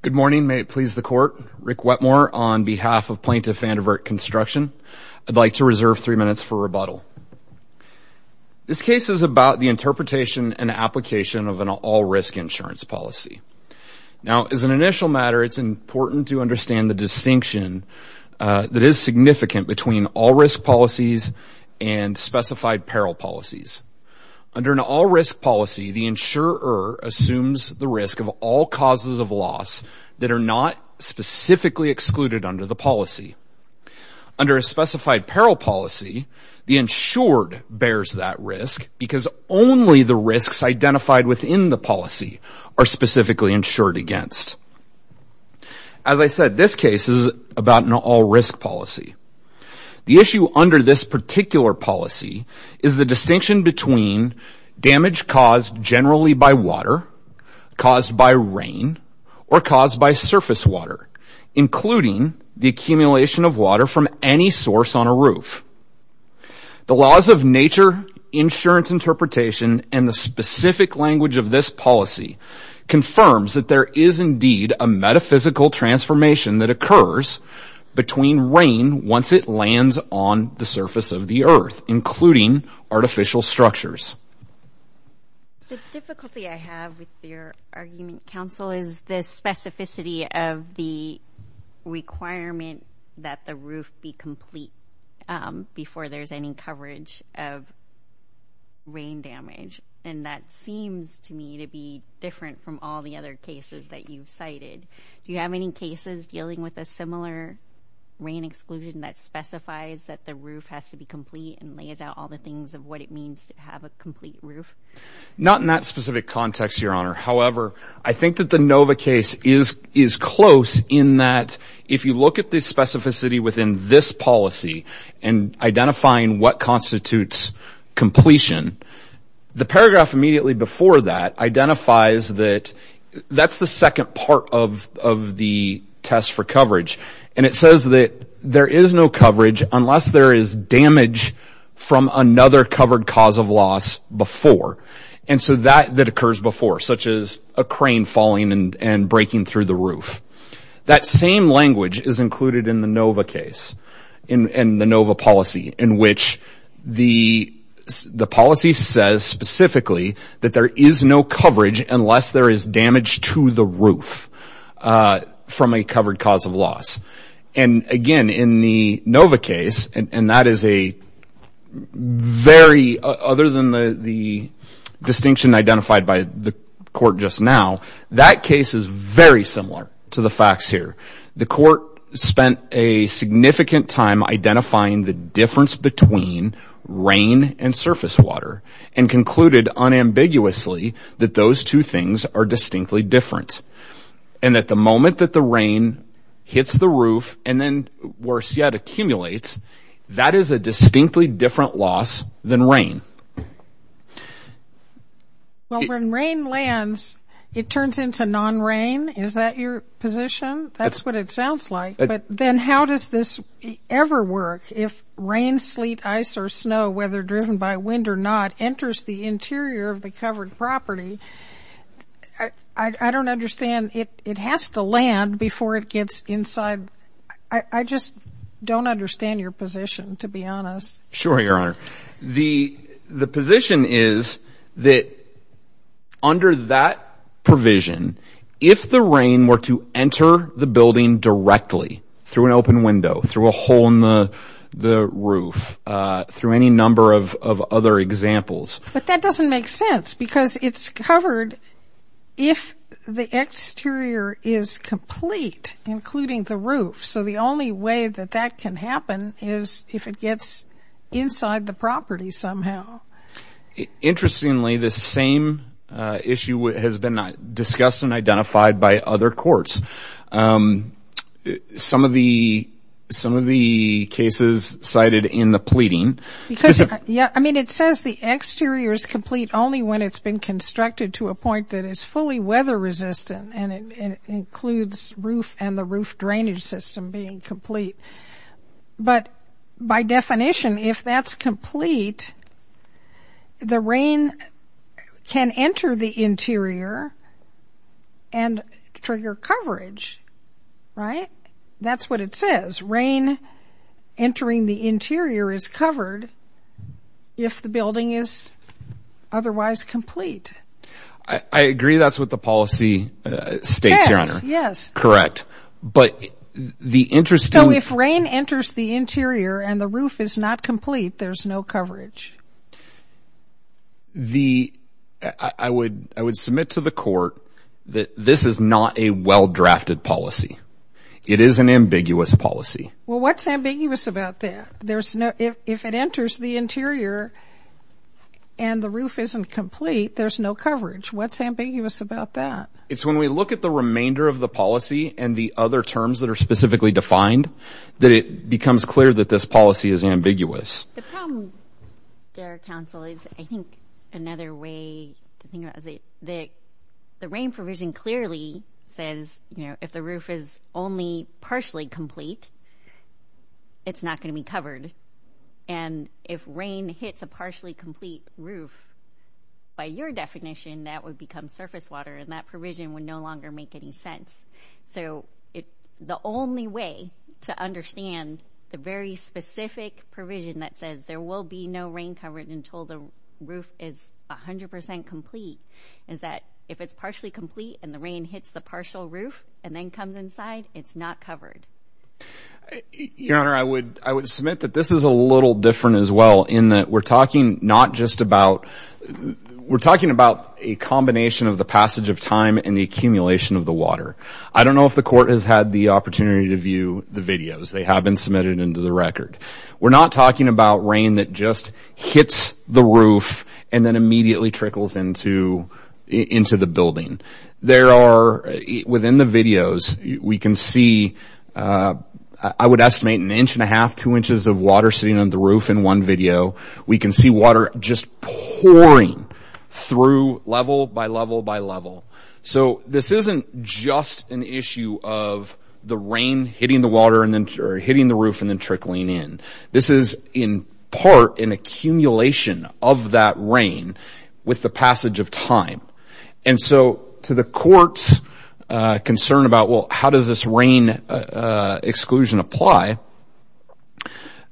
Good morning. May it please the Court. Rick Wetmore on behalf of Plaintiff Vandervert Construction. I'd like to reserve three minutes for rebuttal. This case is about the interpretation and application of an all-risk insurance policy. Now, as an initial matter, it's important to understand the distinction that is significant between all-risk policies and specified peril policies. Under an all-risk policy, the insurer assumes the risk of all causes of loss that are not specifically excluded under the policy. Under a specified peril policy, the insured bears that risk because only the risks identified within the policy are specifically insured against. As I said, this case is about an all-risk policy. The issue under this particular policy is the distinction between damage caused generally by water, caused by rain, or caused by surface water, including the accumulation of water from any source on a roof. The laws of nature, insurance interpretation, and the specific language of this policy confirms that there is indeed a metaphysical transformation that occurs between rain once it lands on the surface of the earth, including artificial structures. The difficulty I have with your argument, counsel, is the specificity of the requirement that the roof be complete before there's any coverage of rain damage. And that seems to me to be different from all the other cases that you've cited. Do you have any cases dealing with a similar rain exclusion that specifies that the roof has to be complete and lays out all the things of what it means to have a complete roof? Not in that specific context, Your Honor. However, I think that the NOVA case is close in that if you look at the specificity within this policy and identifying what constitutes completion, the paragraph immediately before that identifies that that's the second part of the test for coverage. And it says that there is no coverage unless there is damage from another covered cause of loss before. And so that occurs before, such as a crane falling and breaking through the roof. That same language is included in the NOVA case, in the NOVA policy, in which the policy says specifically that there is no coverage unless there is damage to the roof from a covered cause of loss. And again, in the NOVA case, and that is a very, other than the distinction identified by the court just now, that case is very similar to the facts here. The court spent a significant time identifying the difference between rain and surface water and concluded unambiguously that those two things are distinctly different. And at the moment that the rain hits the roof and then, worse yet, accumulates, that is a distinctly different loss than rain. Well, when rain lands, it turns into non-rain. Is that your position? That's what it sounds like. But then how does this ever work if rain, sleet, ice, or snow, whether driven by wind or not, enters the interior of the covered property? I don't understand. It has to land before it gets inside. I just don't understand your position, to be honest. Sure, Your Honor. The position is that under that provision, if the rain were to enter the building directly through an open window, through a hole in the roof, through any number of other examples. But that doesn't make sense because it's covered if the exterior is complete, including the roof. So the only way that that can happen is if it gets inside the property somehow. Interestingly, the same issue has been discussed and identified by other courts. Some of the cases cited in the pleading... I mean, it says the exterior is complete only when it's been constructed to a point that is fully weather-resistant and it includes roof and the roof drainage system being complete. But by definition, if that's complete, the rain can enter the interior and trigger coverage, right? That's what it says. Rain entering the interior is covered if the building is otherwise complete. I agree that's what the policy states, Your Honor. Yes. Correct. But the interest... So if rain enters the interior and the roof is not complete, there's no coverage? I would submit to the court that this is not a well-drafted policy. It is an ambiguous policy. Well, what's ambiguous about that? If it enters the interior and the roof isn't complete, there's no coverage. What's ambiguous about that? It's when we look at the remainder of the policy and the other terms that are specifically defined that it becomes clear that this policy is ambiguous. The problem there, counsel, is I think another way to think about it is that the rain provision clearly says, you know, if the roof is only partially complete, it's not going to be covered. And if rain hits a partially complete roof, by your definition, that would become surface water and that provision would no longer make any sense. So it's the only way to understand the very specific provision that says there will be no rain coverage until the roof is 100% complete is that if it's partially complete and the rain hits the partial roof and then comes inside, it's not covered. Your Honor, I would I would submit that this is a little different as well in that we're talking not just about... we're talking about a combination of the passage of time and the accumulation of the water. I don't know if the court has had the opportunity to view the videos. They have been submitted into the record. We're not talking about rain that just hits the roof and then immediately trickles into into the building. There are, within the videos, we can see, I would estimate, an inch and a half, two inches of water sitting on the roof in one video. We can see water just pouring through level by level by level. So this isn't just an issue of the rain hitting the water and then hitting the roof and then trickling in. This is, in part, an accumulation of that rain with the passage of time. And so to the court's concern about, well, how does this rain exclusion apply?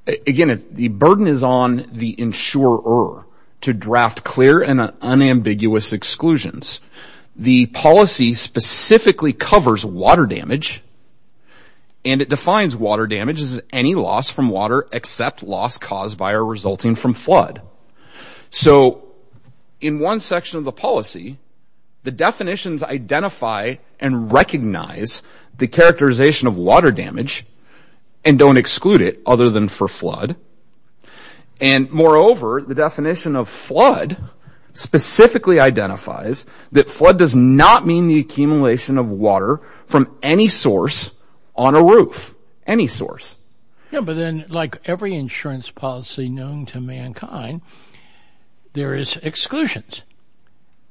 Again, the burden is on the insurer to draft clear and unambiguous exclusions. The policy specifically covers water damage and it defines water damage as any loss from water except loss caused by or resulting from flood. So in one section of the policy, the definitions identify and recognize the characterization of water and, moreover, the definition of flood specifically identifies that flood does not mean the accumulation of water from any source on a roof. Any source. Yeah, but then, like every insurance policy known to mankind, there is exclusions.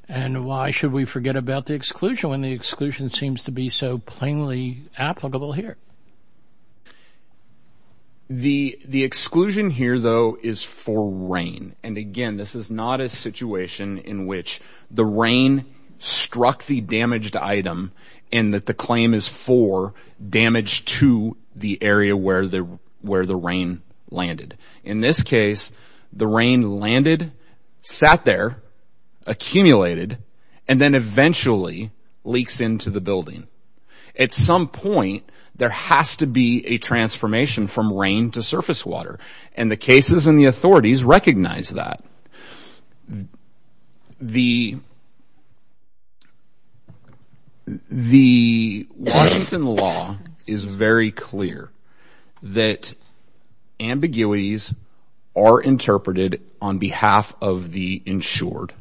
And why should we forget about the exclusion when the exclusion seems to be so plainly applicable here? The exclusion here, though, is for rain. And again, this is not a situation in which the rain struck the damaged item and that the claim is for damage to the area where the rain landed. In this case, the rain landed, sat there, accumulated, and then eventually leaks into the building. At some point, there has to be a transformation from rain to surface water. And the cases and the authorities recognize that. The Washington law is very clear that ambiguities are interpreted on behalf of the insured.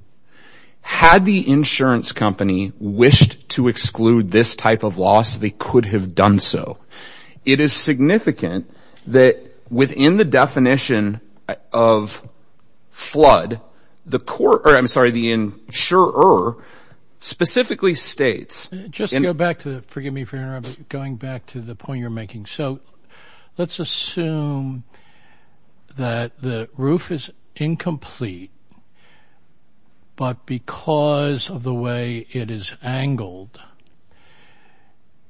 Had the insurance company wished to exclude this type of loss, they could have done so. It is significant that within the definition of flood, the court, or I'm sorry, the insurer specifically states. Just go back to, forgive me for interrupting, going back to the point you're making. So let's assume that the roof is incomplete, but because of the way it is angled,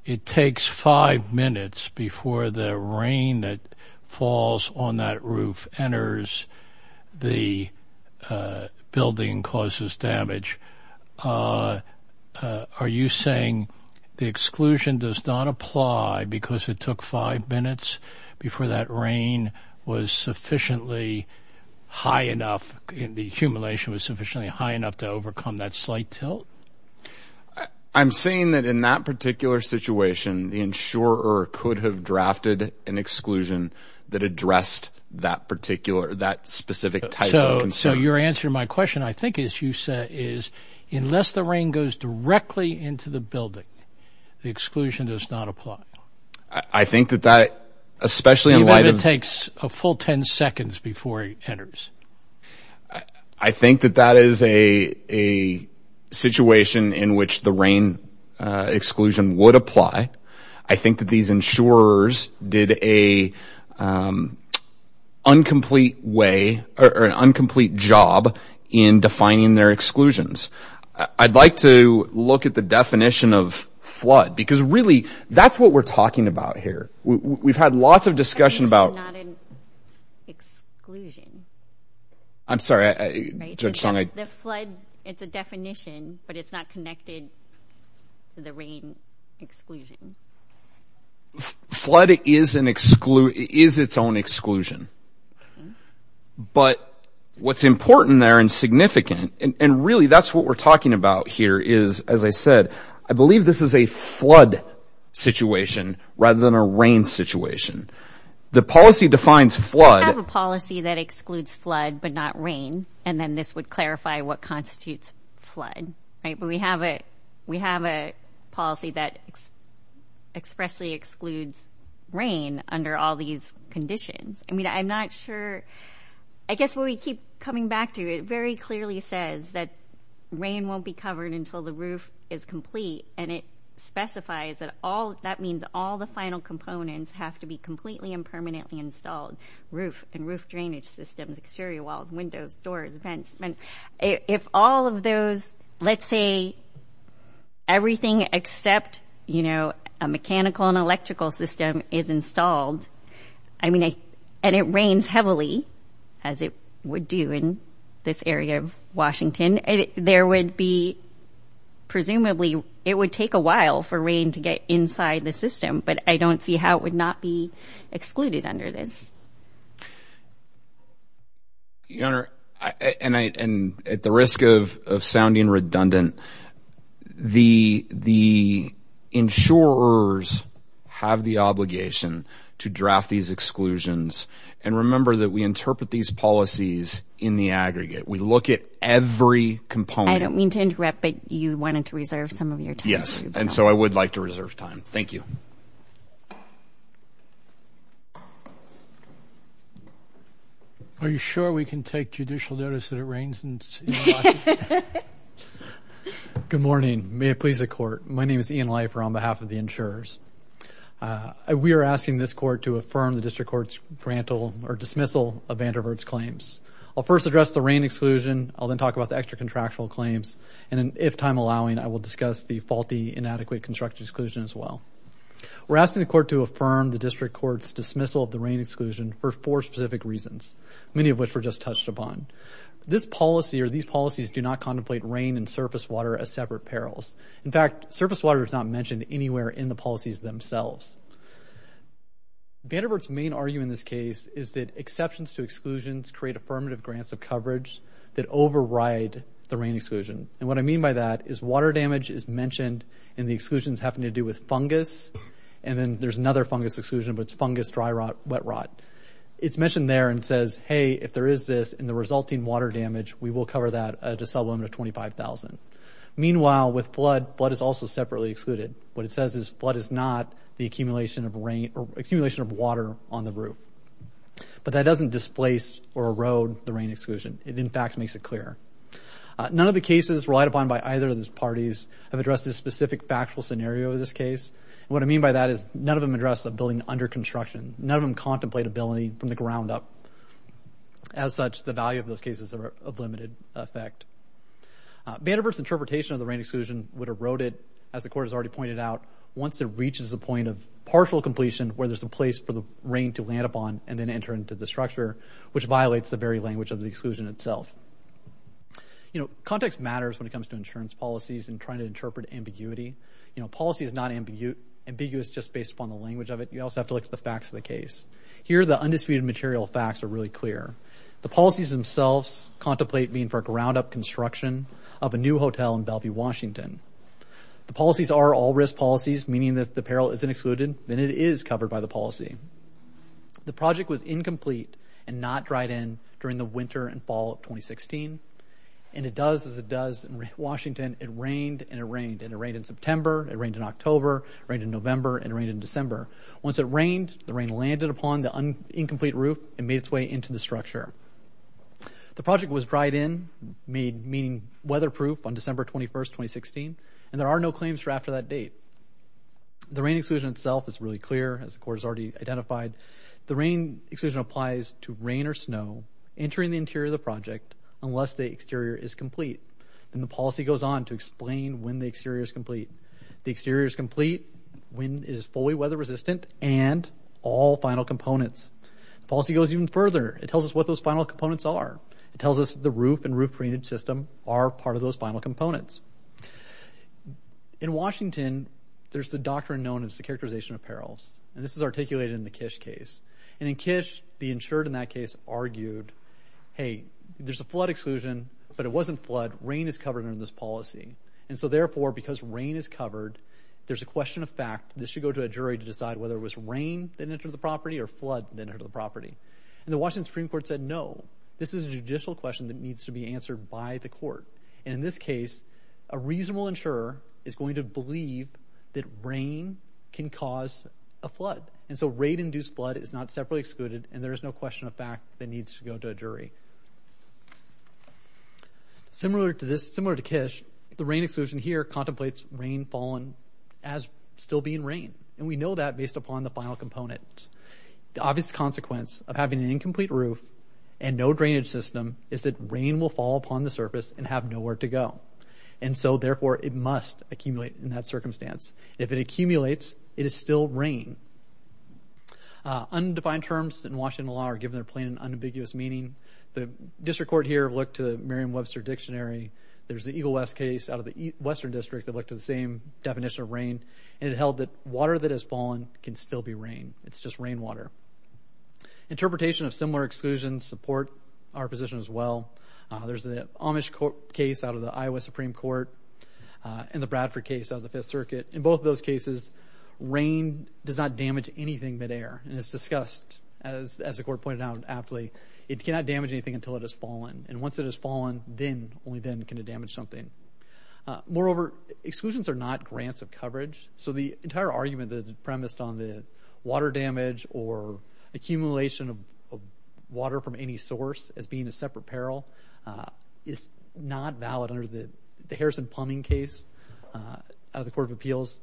it takes five minutes before the rain that falls on that roof enters the building and causes damage. Are you saying the exclusion does not apply because it took five minutes before that rain was sufficiently high enough, the accumulation was sufficiently high enough to overcome that slight tilt? I'm saying that in that particular situation, the insurer could have drafted an exclusion that addressed that particular, that specific type of concern. So your answer to my question, I think as you said, is unless the rain goes directly into the building, the exclusion does not apply. I think that that, especially in light of... Even if it takes a full 10 seconds before it enters. I think that that is a situation in which the rain exclusion would apply. I think that these insurers did a incomplete way or an incomplete job in defining their exclusions. I'd like to look at the definition of flood, because really that's what we're talking about here. We've had lots of discussion about... I'm sorry. It's a definition, but it's not connected to the rain exclusion. Flood is its own exclusion, but what's important there and significant, and really that's what we're talking about here, is as I said, I believe this is a flood situation rather than a rain situation. The policy defines flood... We have a policy that excludes flood but not rain, and then this would clarify what constitutes flood. We have a policy that expressly excludes rain under all these conditions. I mean, I'm not sure... I guess what we keep coming back to, it very clearly says that rain won't be covered until the roof is complete, and it specifies that all... That means all the final components have to be completely and permanently installed. Roof and roof drainage systems, exterior walls, windows, doors, vents. If all of those... Let's say everything except, you know, a mechanical and electrical system is installed, I mean, and it rains heavily as it would do in this area of Washington, there would be... Presumably, it would take a while for rain to get inside the system, but I don't see how it would not be excluded under this. Your Honor, and at the risk of sounding redundant, the insurers have the obligation to draft these exclusions, and remember that we interpret these policies in the aggregate. We look at every component. I don't mean to interrupt, but you wanted to reserve some of your time. Yes, and so I would like to reserve time. Thank you. Are you sure we can take judicial notice that it rains in Washington? Good morning. May it please the Court. My name is Ian Leifer on behalf of the insurers. We are asking this Court to affirm the District Court's grantal or dismissal of Vanderbilt's claims. I'll first address the rain exclusion. I'll then talk about the extra contractual claims, and then, if time allowing, I will discuss the faulty inadequate construction exclusion as well. We're asking the Court to affirm the District Court's dismissal of the rain exclusion for four specific reasons, many of which were just touched upon. This policy, or these policies, do not contemplate rain and surface water as separate perils. In fact, surface water is not mentioned anywhere in the policies themselves. Vanderbilt's main argument in this case is that exceptions to exclusions create affirmative grants of coverage that override the rain exclusion, and what I mean by that is water damage is mentioned in the exclusions having to do with fungus, and then there's another fungus exclusion, but it's fungus dry rot wet rot. It's mentioned there and says, hey, if there is this in the resulting water damage, we will cover that at a sub limit of 25,000. Meanwhile, with flood, flood is also separately excluded. What it says is flood is not the accumulation of rain or accumulation of water on the roof, but that doesn't displace or erode the rain exclusion. It, in fact, makes it clearer. None of the cases relied upon by either of these parties have addressed this specific factual scenario of this case, and what I mean by that is none of them address the building under construction. None of them contemplate a building from the ground up. As such, the value of those cases are of limited effect. Vanderbilt's interpretation of the rain exclusion would erode it, as the court has already pointed out, once it reaches the point of partial completion where there's a place for the rain to land upon and then enter into the structure, which violates the language of the exclusion itself. You know, context matters when it comes to insurance policies and trying to interpret ambiguity. You know, policy is not ambiguous just based upon the language of it. You also have to look at the facts of the case. Here, the undisputed material facts are really clear. The policies themselves contemplate being for ground-up construction of a new hotel in Bellevue, Washington. The policies are all risk policies, meaning that the peril isn't excluded, then it is covered by the policy. The project was incomplete and not dried in during the winter and fall of 2016, and it does as it does in Washington. It rained and it rained, and it rained in September, it rained in October, it rained in November, and it rained in December. Once it rained, the rain landed upon the incomplete roof and made its way into the structure. The project was dried in, meaning weatherproof, on December 21st, 2016, and there are no claims for after that date. The rain exclusion itself is really clear, as the court has already identified. The rain exclusion applies to rain or snow entering the interior of the project unless the exterior is complete, and the policy goes on to explain when the exterior is complete. The exterior is complete when it is fully weather-resistant and all final components. Policy goes even further. It tells us what those final components are. It tells us the roof and roof drainage system are part of those final components. In Washington, there's the doctrine known as the characterization of perils, and this is articulated in the Kish case, and in Kish, the insured in that case argued, hey, there's a flood exclusion, but it wasn't flood. Rain is covered under this policy, and so therefore, because rain is covered, there's a question of fact. This should go to a jury to decide whether it was rain that entered the property or flood that entered the property, and the Washington Supreme Court said no. This is a judicial question that needs to be answered by the court, and in this case, a reasonable insurer is going to believe that rain can cause a flood, and so rain-induced flood is not separately excluded, and there is no question of fact that needs to go to a jury. Similar to this, similar to Kish, the rain exclusion here contemplates rain fallen as still being rain, and we know that based upon the final component. The obvious consequence of having an incomplete roof and no drainage system is that rain will fall upon the surface and have nowhere to go, and so therefore, it must accumulate in that circumstance. If it accumulates, it is still rain. Undefined terms in Washington law are given their plain and unambiguous meaning. The district court here looked to Merriam-Webster dictionary. There's the Eagle West case out of the Western District that looked to the same definition of rain, and it held that water that has fallen can still be rain. It's just rainwater. Interpretation of similar exclusions support our position as well. There's the Amish court case out of the Iowa Supreme Court and the Bradford case out of the Fifth Circuit. In both of those cases, rain does not damage anything midair, and it's discussed, as the court pointed out aptly, it cannot damage anything until it has fallen, and once it has fallen, then, only then, can it damage something. Moreover, exclusions are not grants of coverage, so the entire argument that's premised on the water damage or accumulation of water from any source as being a separate peril is not valid under the Harrison plumbing case out of the Court of Appeals.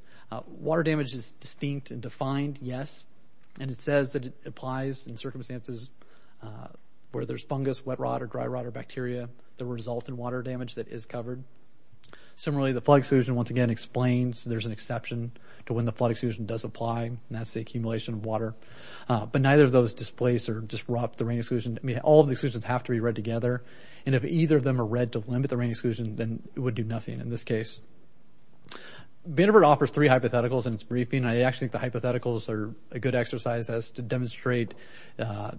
Water damage is distinct and defined, yes, and it says that it applies in circumstances where there's fungus, wet rot, or dry rot, or bacteria that result in water damage that is covered. Similarly, the flood exclusion, once again, explains there's an exception to when the flood exclusion does apply, and that's the accumulation of water, but neither of those displace or disrupt the rain exclusion. I mean, all of the exclusions have to be read together, and if either of them are read to limit the rain exclusion, then it would do nothing in this case. Vanderbilt offers three hypotheticals in its briefing. I actually think the hypotheticals are a good exercise as to demonstrate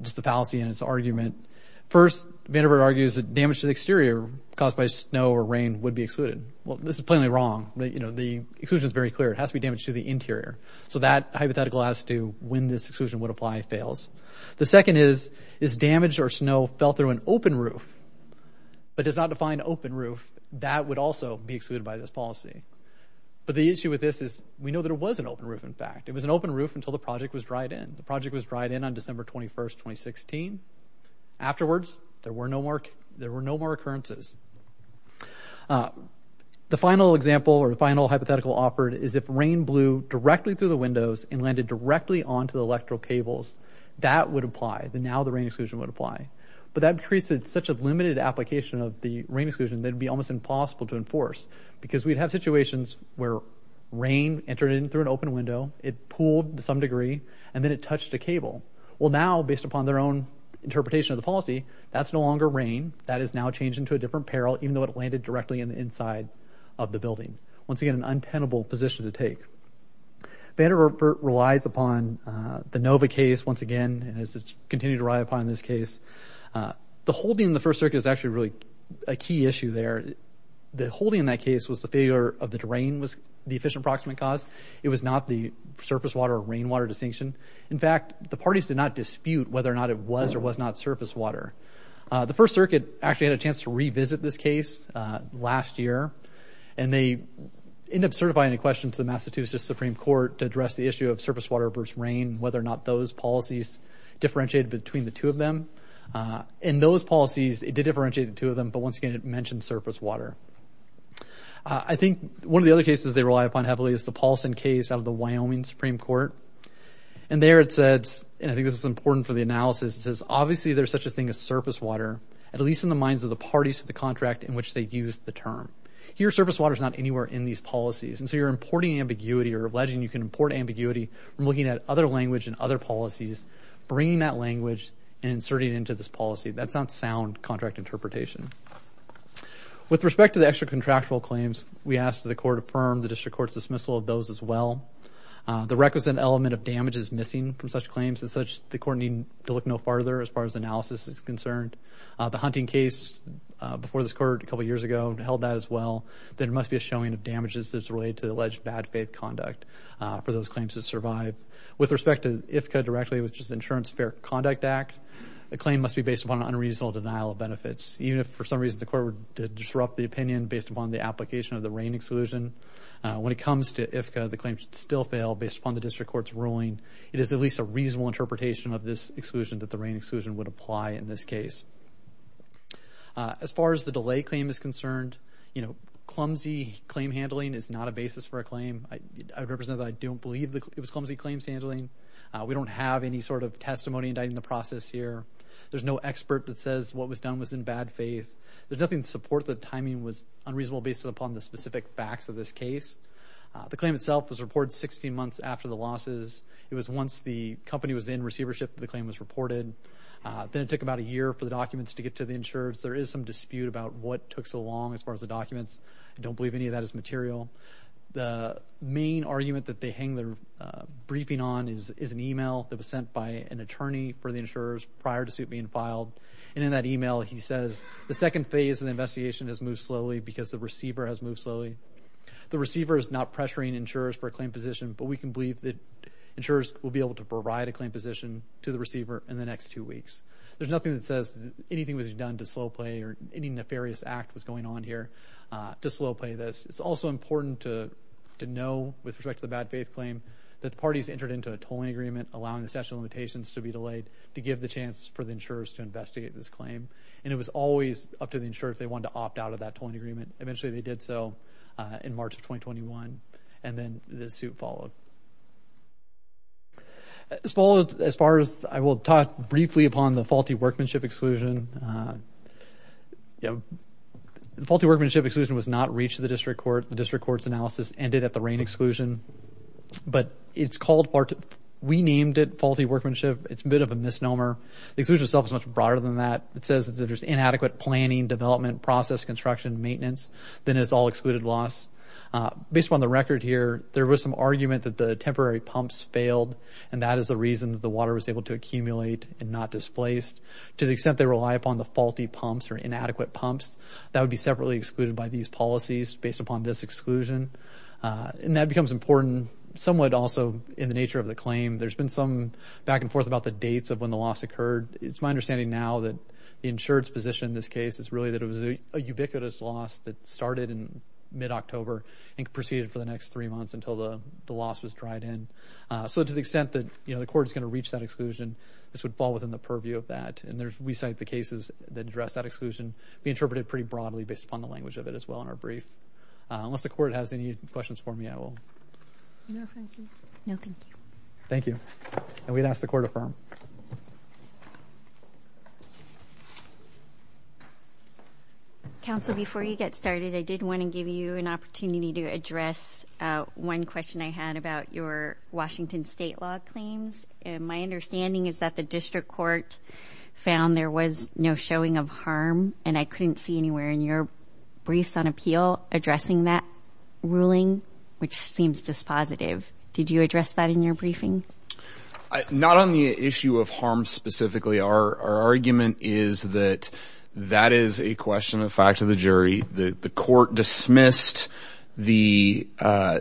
just the fallacy in its argument. First, Vanderbilt argues that damage to the exterior caused by snow or rain would be excluded. Well, this is plainly wrong. You know, the exclusion is very clear. It has to be damage to the interior, so that hypothetical has to be when this exclusion would apply fails. The second is, is damage or snow fell through an open roof, but does not define open roof, that would also be excluded by this policy. But the issue with this is we know that it was an open roof, in fact. It was an open roof until the project was dried in. The project was dried in on December 21, 2016. Afterwards, there were no more occurrences. The final example or the final hypothetical offered is if rain blew directly through the windows and landed directly onto the electrical cables, that would apply. Then now the rain exclusion would apply. But that creates it's such a limited application of the rain exclusion that would be almost impossible to enforce. Because we'd have situations where rain entered in through an open window, it pooled to some degree, and then it touched a cable. Well now, based upon their own interpretation of the policy, that's no longer rain. That is now changed into a different peril, even though it landed directly in the inside of the building. Once again, an untenable position to take. Vanderbilt relies upon the Nova case once again, and has continued to rely upon this case. The holding in the First Circuit is actually really a key issue there. The holding in that case was the failure of the terrain was the efficient approximate cause. It was not the surface water or rainwater distinction. In fact, the parties did not dispute whether or not it was or was not surface water. The First Circuit actually had a chance to revisit this case last year, and they ended up certifying a question to the Massachusetts Supreme Court to address the issue of surface water versus rain, whether or not those policies differentiated between the two of them. And those policies, it did differentiate the two of them, but once again it mentioned surface water. I think one of the other cases they rely upon heavily is the Paulson case out of the Wyoming Supreme Court. And there it says, and I think this is important for the analysis, it says, obviously there's such a thing as surface water, at least in the minds of the parties to the contract in which they used the term. Here, surface water is not anywhere in these policies. And so you're importing ambiguity or alleging you can import ambiguity from looking at other language and other policies, bringing that language and inserting it into this policy. That's not sound contract interpretation. With respect to the extra contractual claims, we asked the court to affirm the district court's dismissal of those as well. The requisite element of damage is missing from such claims, and such the court need to look no farther as far as analysis is concerned. The hunting case before this court, a couple years ago, held that as well. There must be a showing of damages that's related to the alleged bad faith conduct for those claims to survive. With respect to IFCA directly, which is the Insurance Fair Conduct Act, the claim must be based upon an unreasonable denial of benefits. Even if for some reason the court would disrupt the opinion based upon the application of the rain exclusion, when it comes to IFCA, the claim should still fail based upon the district court's ruling. It is at least a reasonable interpretation of this exclusion that the rain exclusion would apply in this case. As far as the delay claim is concerned, you know, clumsy claim handling is not a basis for a claim. I represent that I don't believe it was clumsy claims handling. We don't have any sort of testimony indicting the process here. There's no expert that says what was done was in bad faith. There's nothing to support the timing was unreasonable based upon the specific facts of this case. The claim itself was reported 16 months after the losses. It was once the company was in receivership that the claim was reported. Then it took about a year for the documents to get to the insurers. There is some dispute about what took so long as far as the documents. I don't believe any of that is material. The main argument that they hang their briefing on is is an email that was sent by an attorney for the insurers prior to suit being filed. And in that email he says the second phase of the investigation has moved slowly because the receiver has moved slowly. The receiver is not pressuring insurers for a claim position, but we can believe that insurers will be able to provide a claim position to the receiver in the next two weeks. There's nothing that says anything was done to slow play or any nefarious act was going on here to slow play this. It's also important to to know with respect to the bad faith claim that the parties entered into a tolling agreement allowing the statute of limitations to be delayed to give the chance for the insurers to investigate this claim. And it was always up to the insurer if they wanted to opt out of that tolling agreement. Eventually they did so in March of 2021 and then the suit followed. As far as I will talk briefly upon the faulty workmanship exclusion, you know, the faulty workmanship exclusion was not reached the district court. The district court's analysis ended at the rain exclusion. But it's called, we named it faulty workmanship. It's a bit of a misnomer. The exclusion itself is much broader than that. It says that there's inadequate planning, development, process, construction, maintenance. Then it's all excluded loss. Based on the record here there was some argument that the temporary pumps failed and that is the water was able to accumulate and not displaced. To the extent they rely upon the faulty pumps or inadequate pumps, that would be separately excluded by these policies based upon this exclusion. And that becomes important somewhat also in the nature of the claim. There's been some back and forth about the dates of when the loss occurred. It's my understanding now that the insured's position in this case is really that it was a ubiquitous loss that started in mid-October and proceeded for the next three months until the the loss was brought in. So to the extent that, you know, the court is going to reach that exclusion, this would fall within the purview of that. And there's, we cite the cases that address that exclusion. We interpret it pretty broadly based upon the language of it as well in our brief. Unless the court has any questions for me, I will. No, thank you. No, thank you. Thank you. And we'd ask the court to affirm. Council, before you get started, I did want to give you an opportunity to address one question I had about your Washington state law claims. My understanding is that the district court found there was no showing of harm, and I couldn't see anywhere in your briefs on appeal addressing that ruling, which seems dispositive. Did you address that in your briefing? Not on the issue of harm specifically. Our argument is that that is a question of fact of the jury. The court dismissed the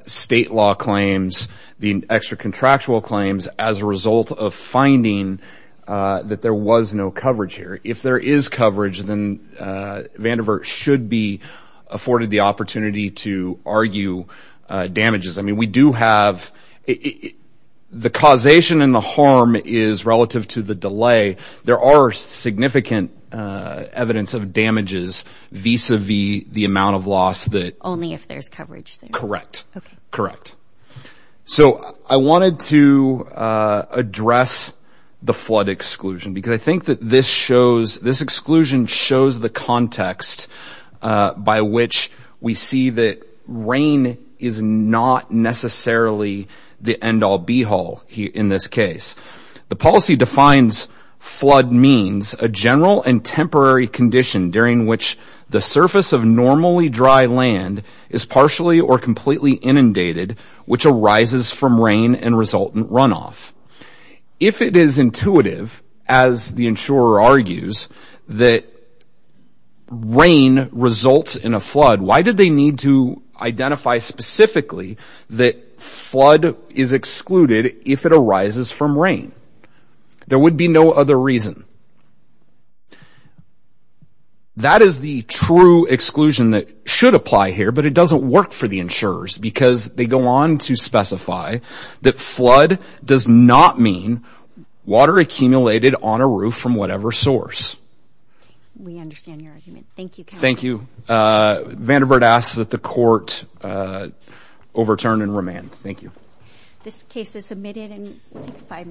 state law claims, the extra contractual claims, as a result of finding that there was no coverage here. If there is coverage, then Vandiver should be afforded the opportunity to argue damages. I mean, we do have the causation and the harm is relative to the delay. There are significant evidence of damages vis-a-vis the amount of loss that only if there's coverage. Correct. Correct. So I wanted to address the flood exclusion because I think that this shows this exclusion shows the context by which we see that rain is not necessarily the end all be all in this case. The policy defines flood means a general and temporary condition during which the surface of normally dry land is partially or completely inundated, which arises from rain and result in runoff. If it is intuitive, as the insurer argues, that rain results in a flood, why did they need to identify specifically that flood is excluded if it arises from rain? There would be no other reason. That is the true exclusion that should apply here, but it doesn't work for the insurers because they go on to specify that flood does not mean water accumulated on a roof from whatever source. We understand your overturn and remand. Thank you. This case is submitted in five minutes.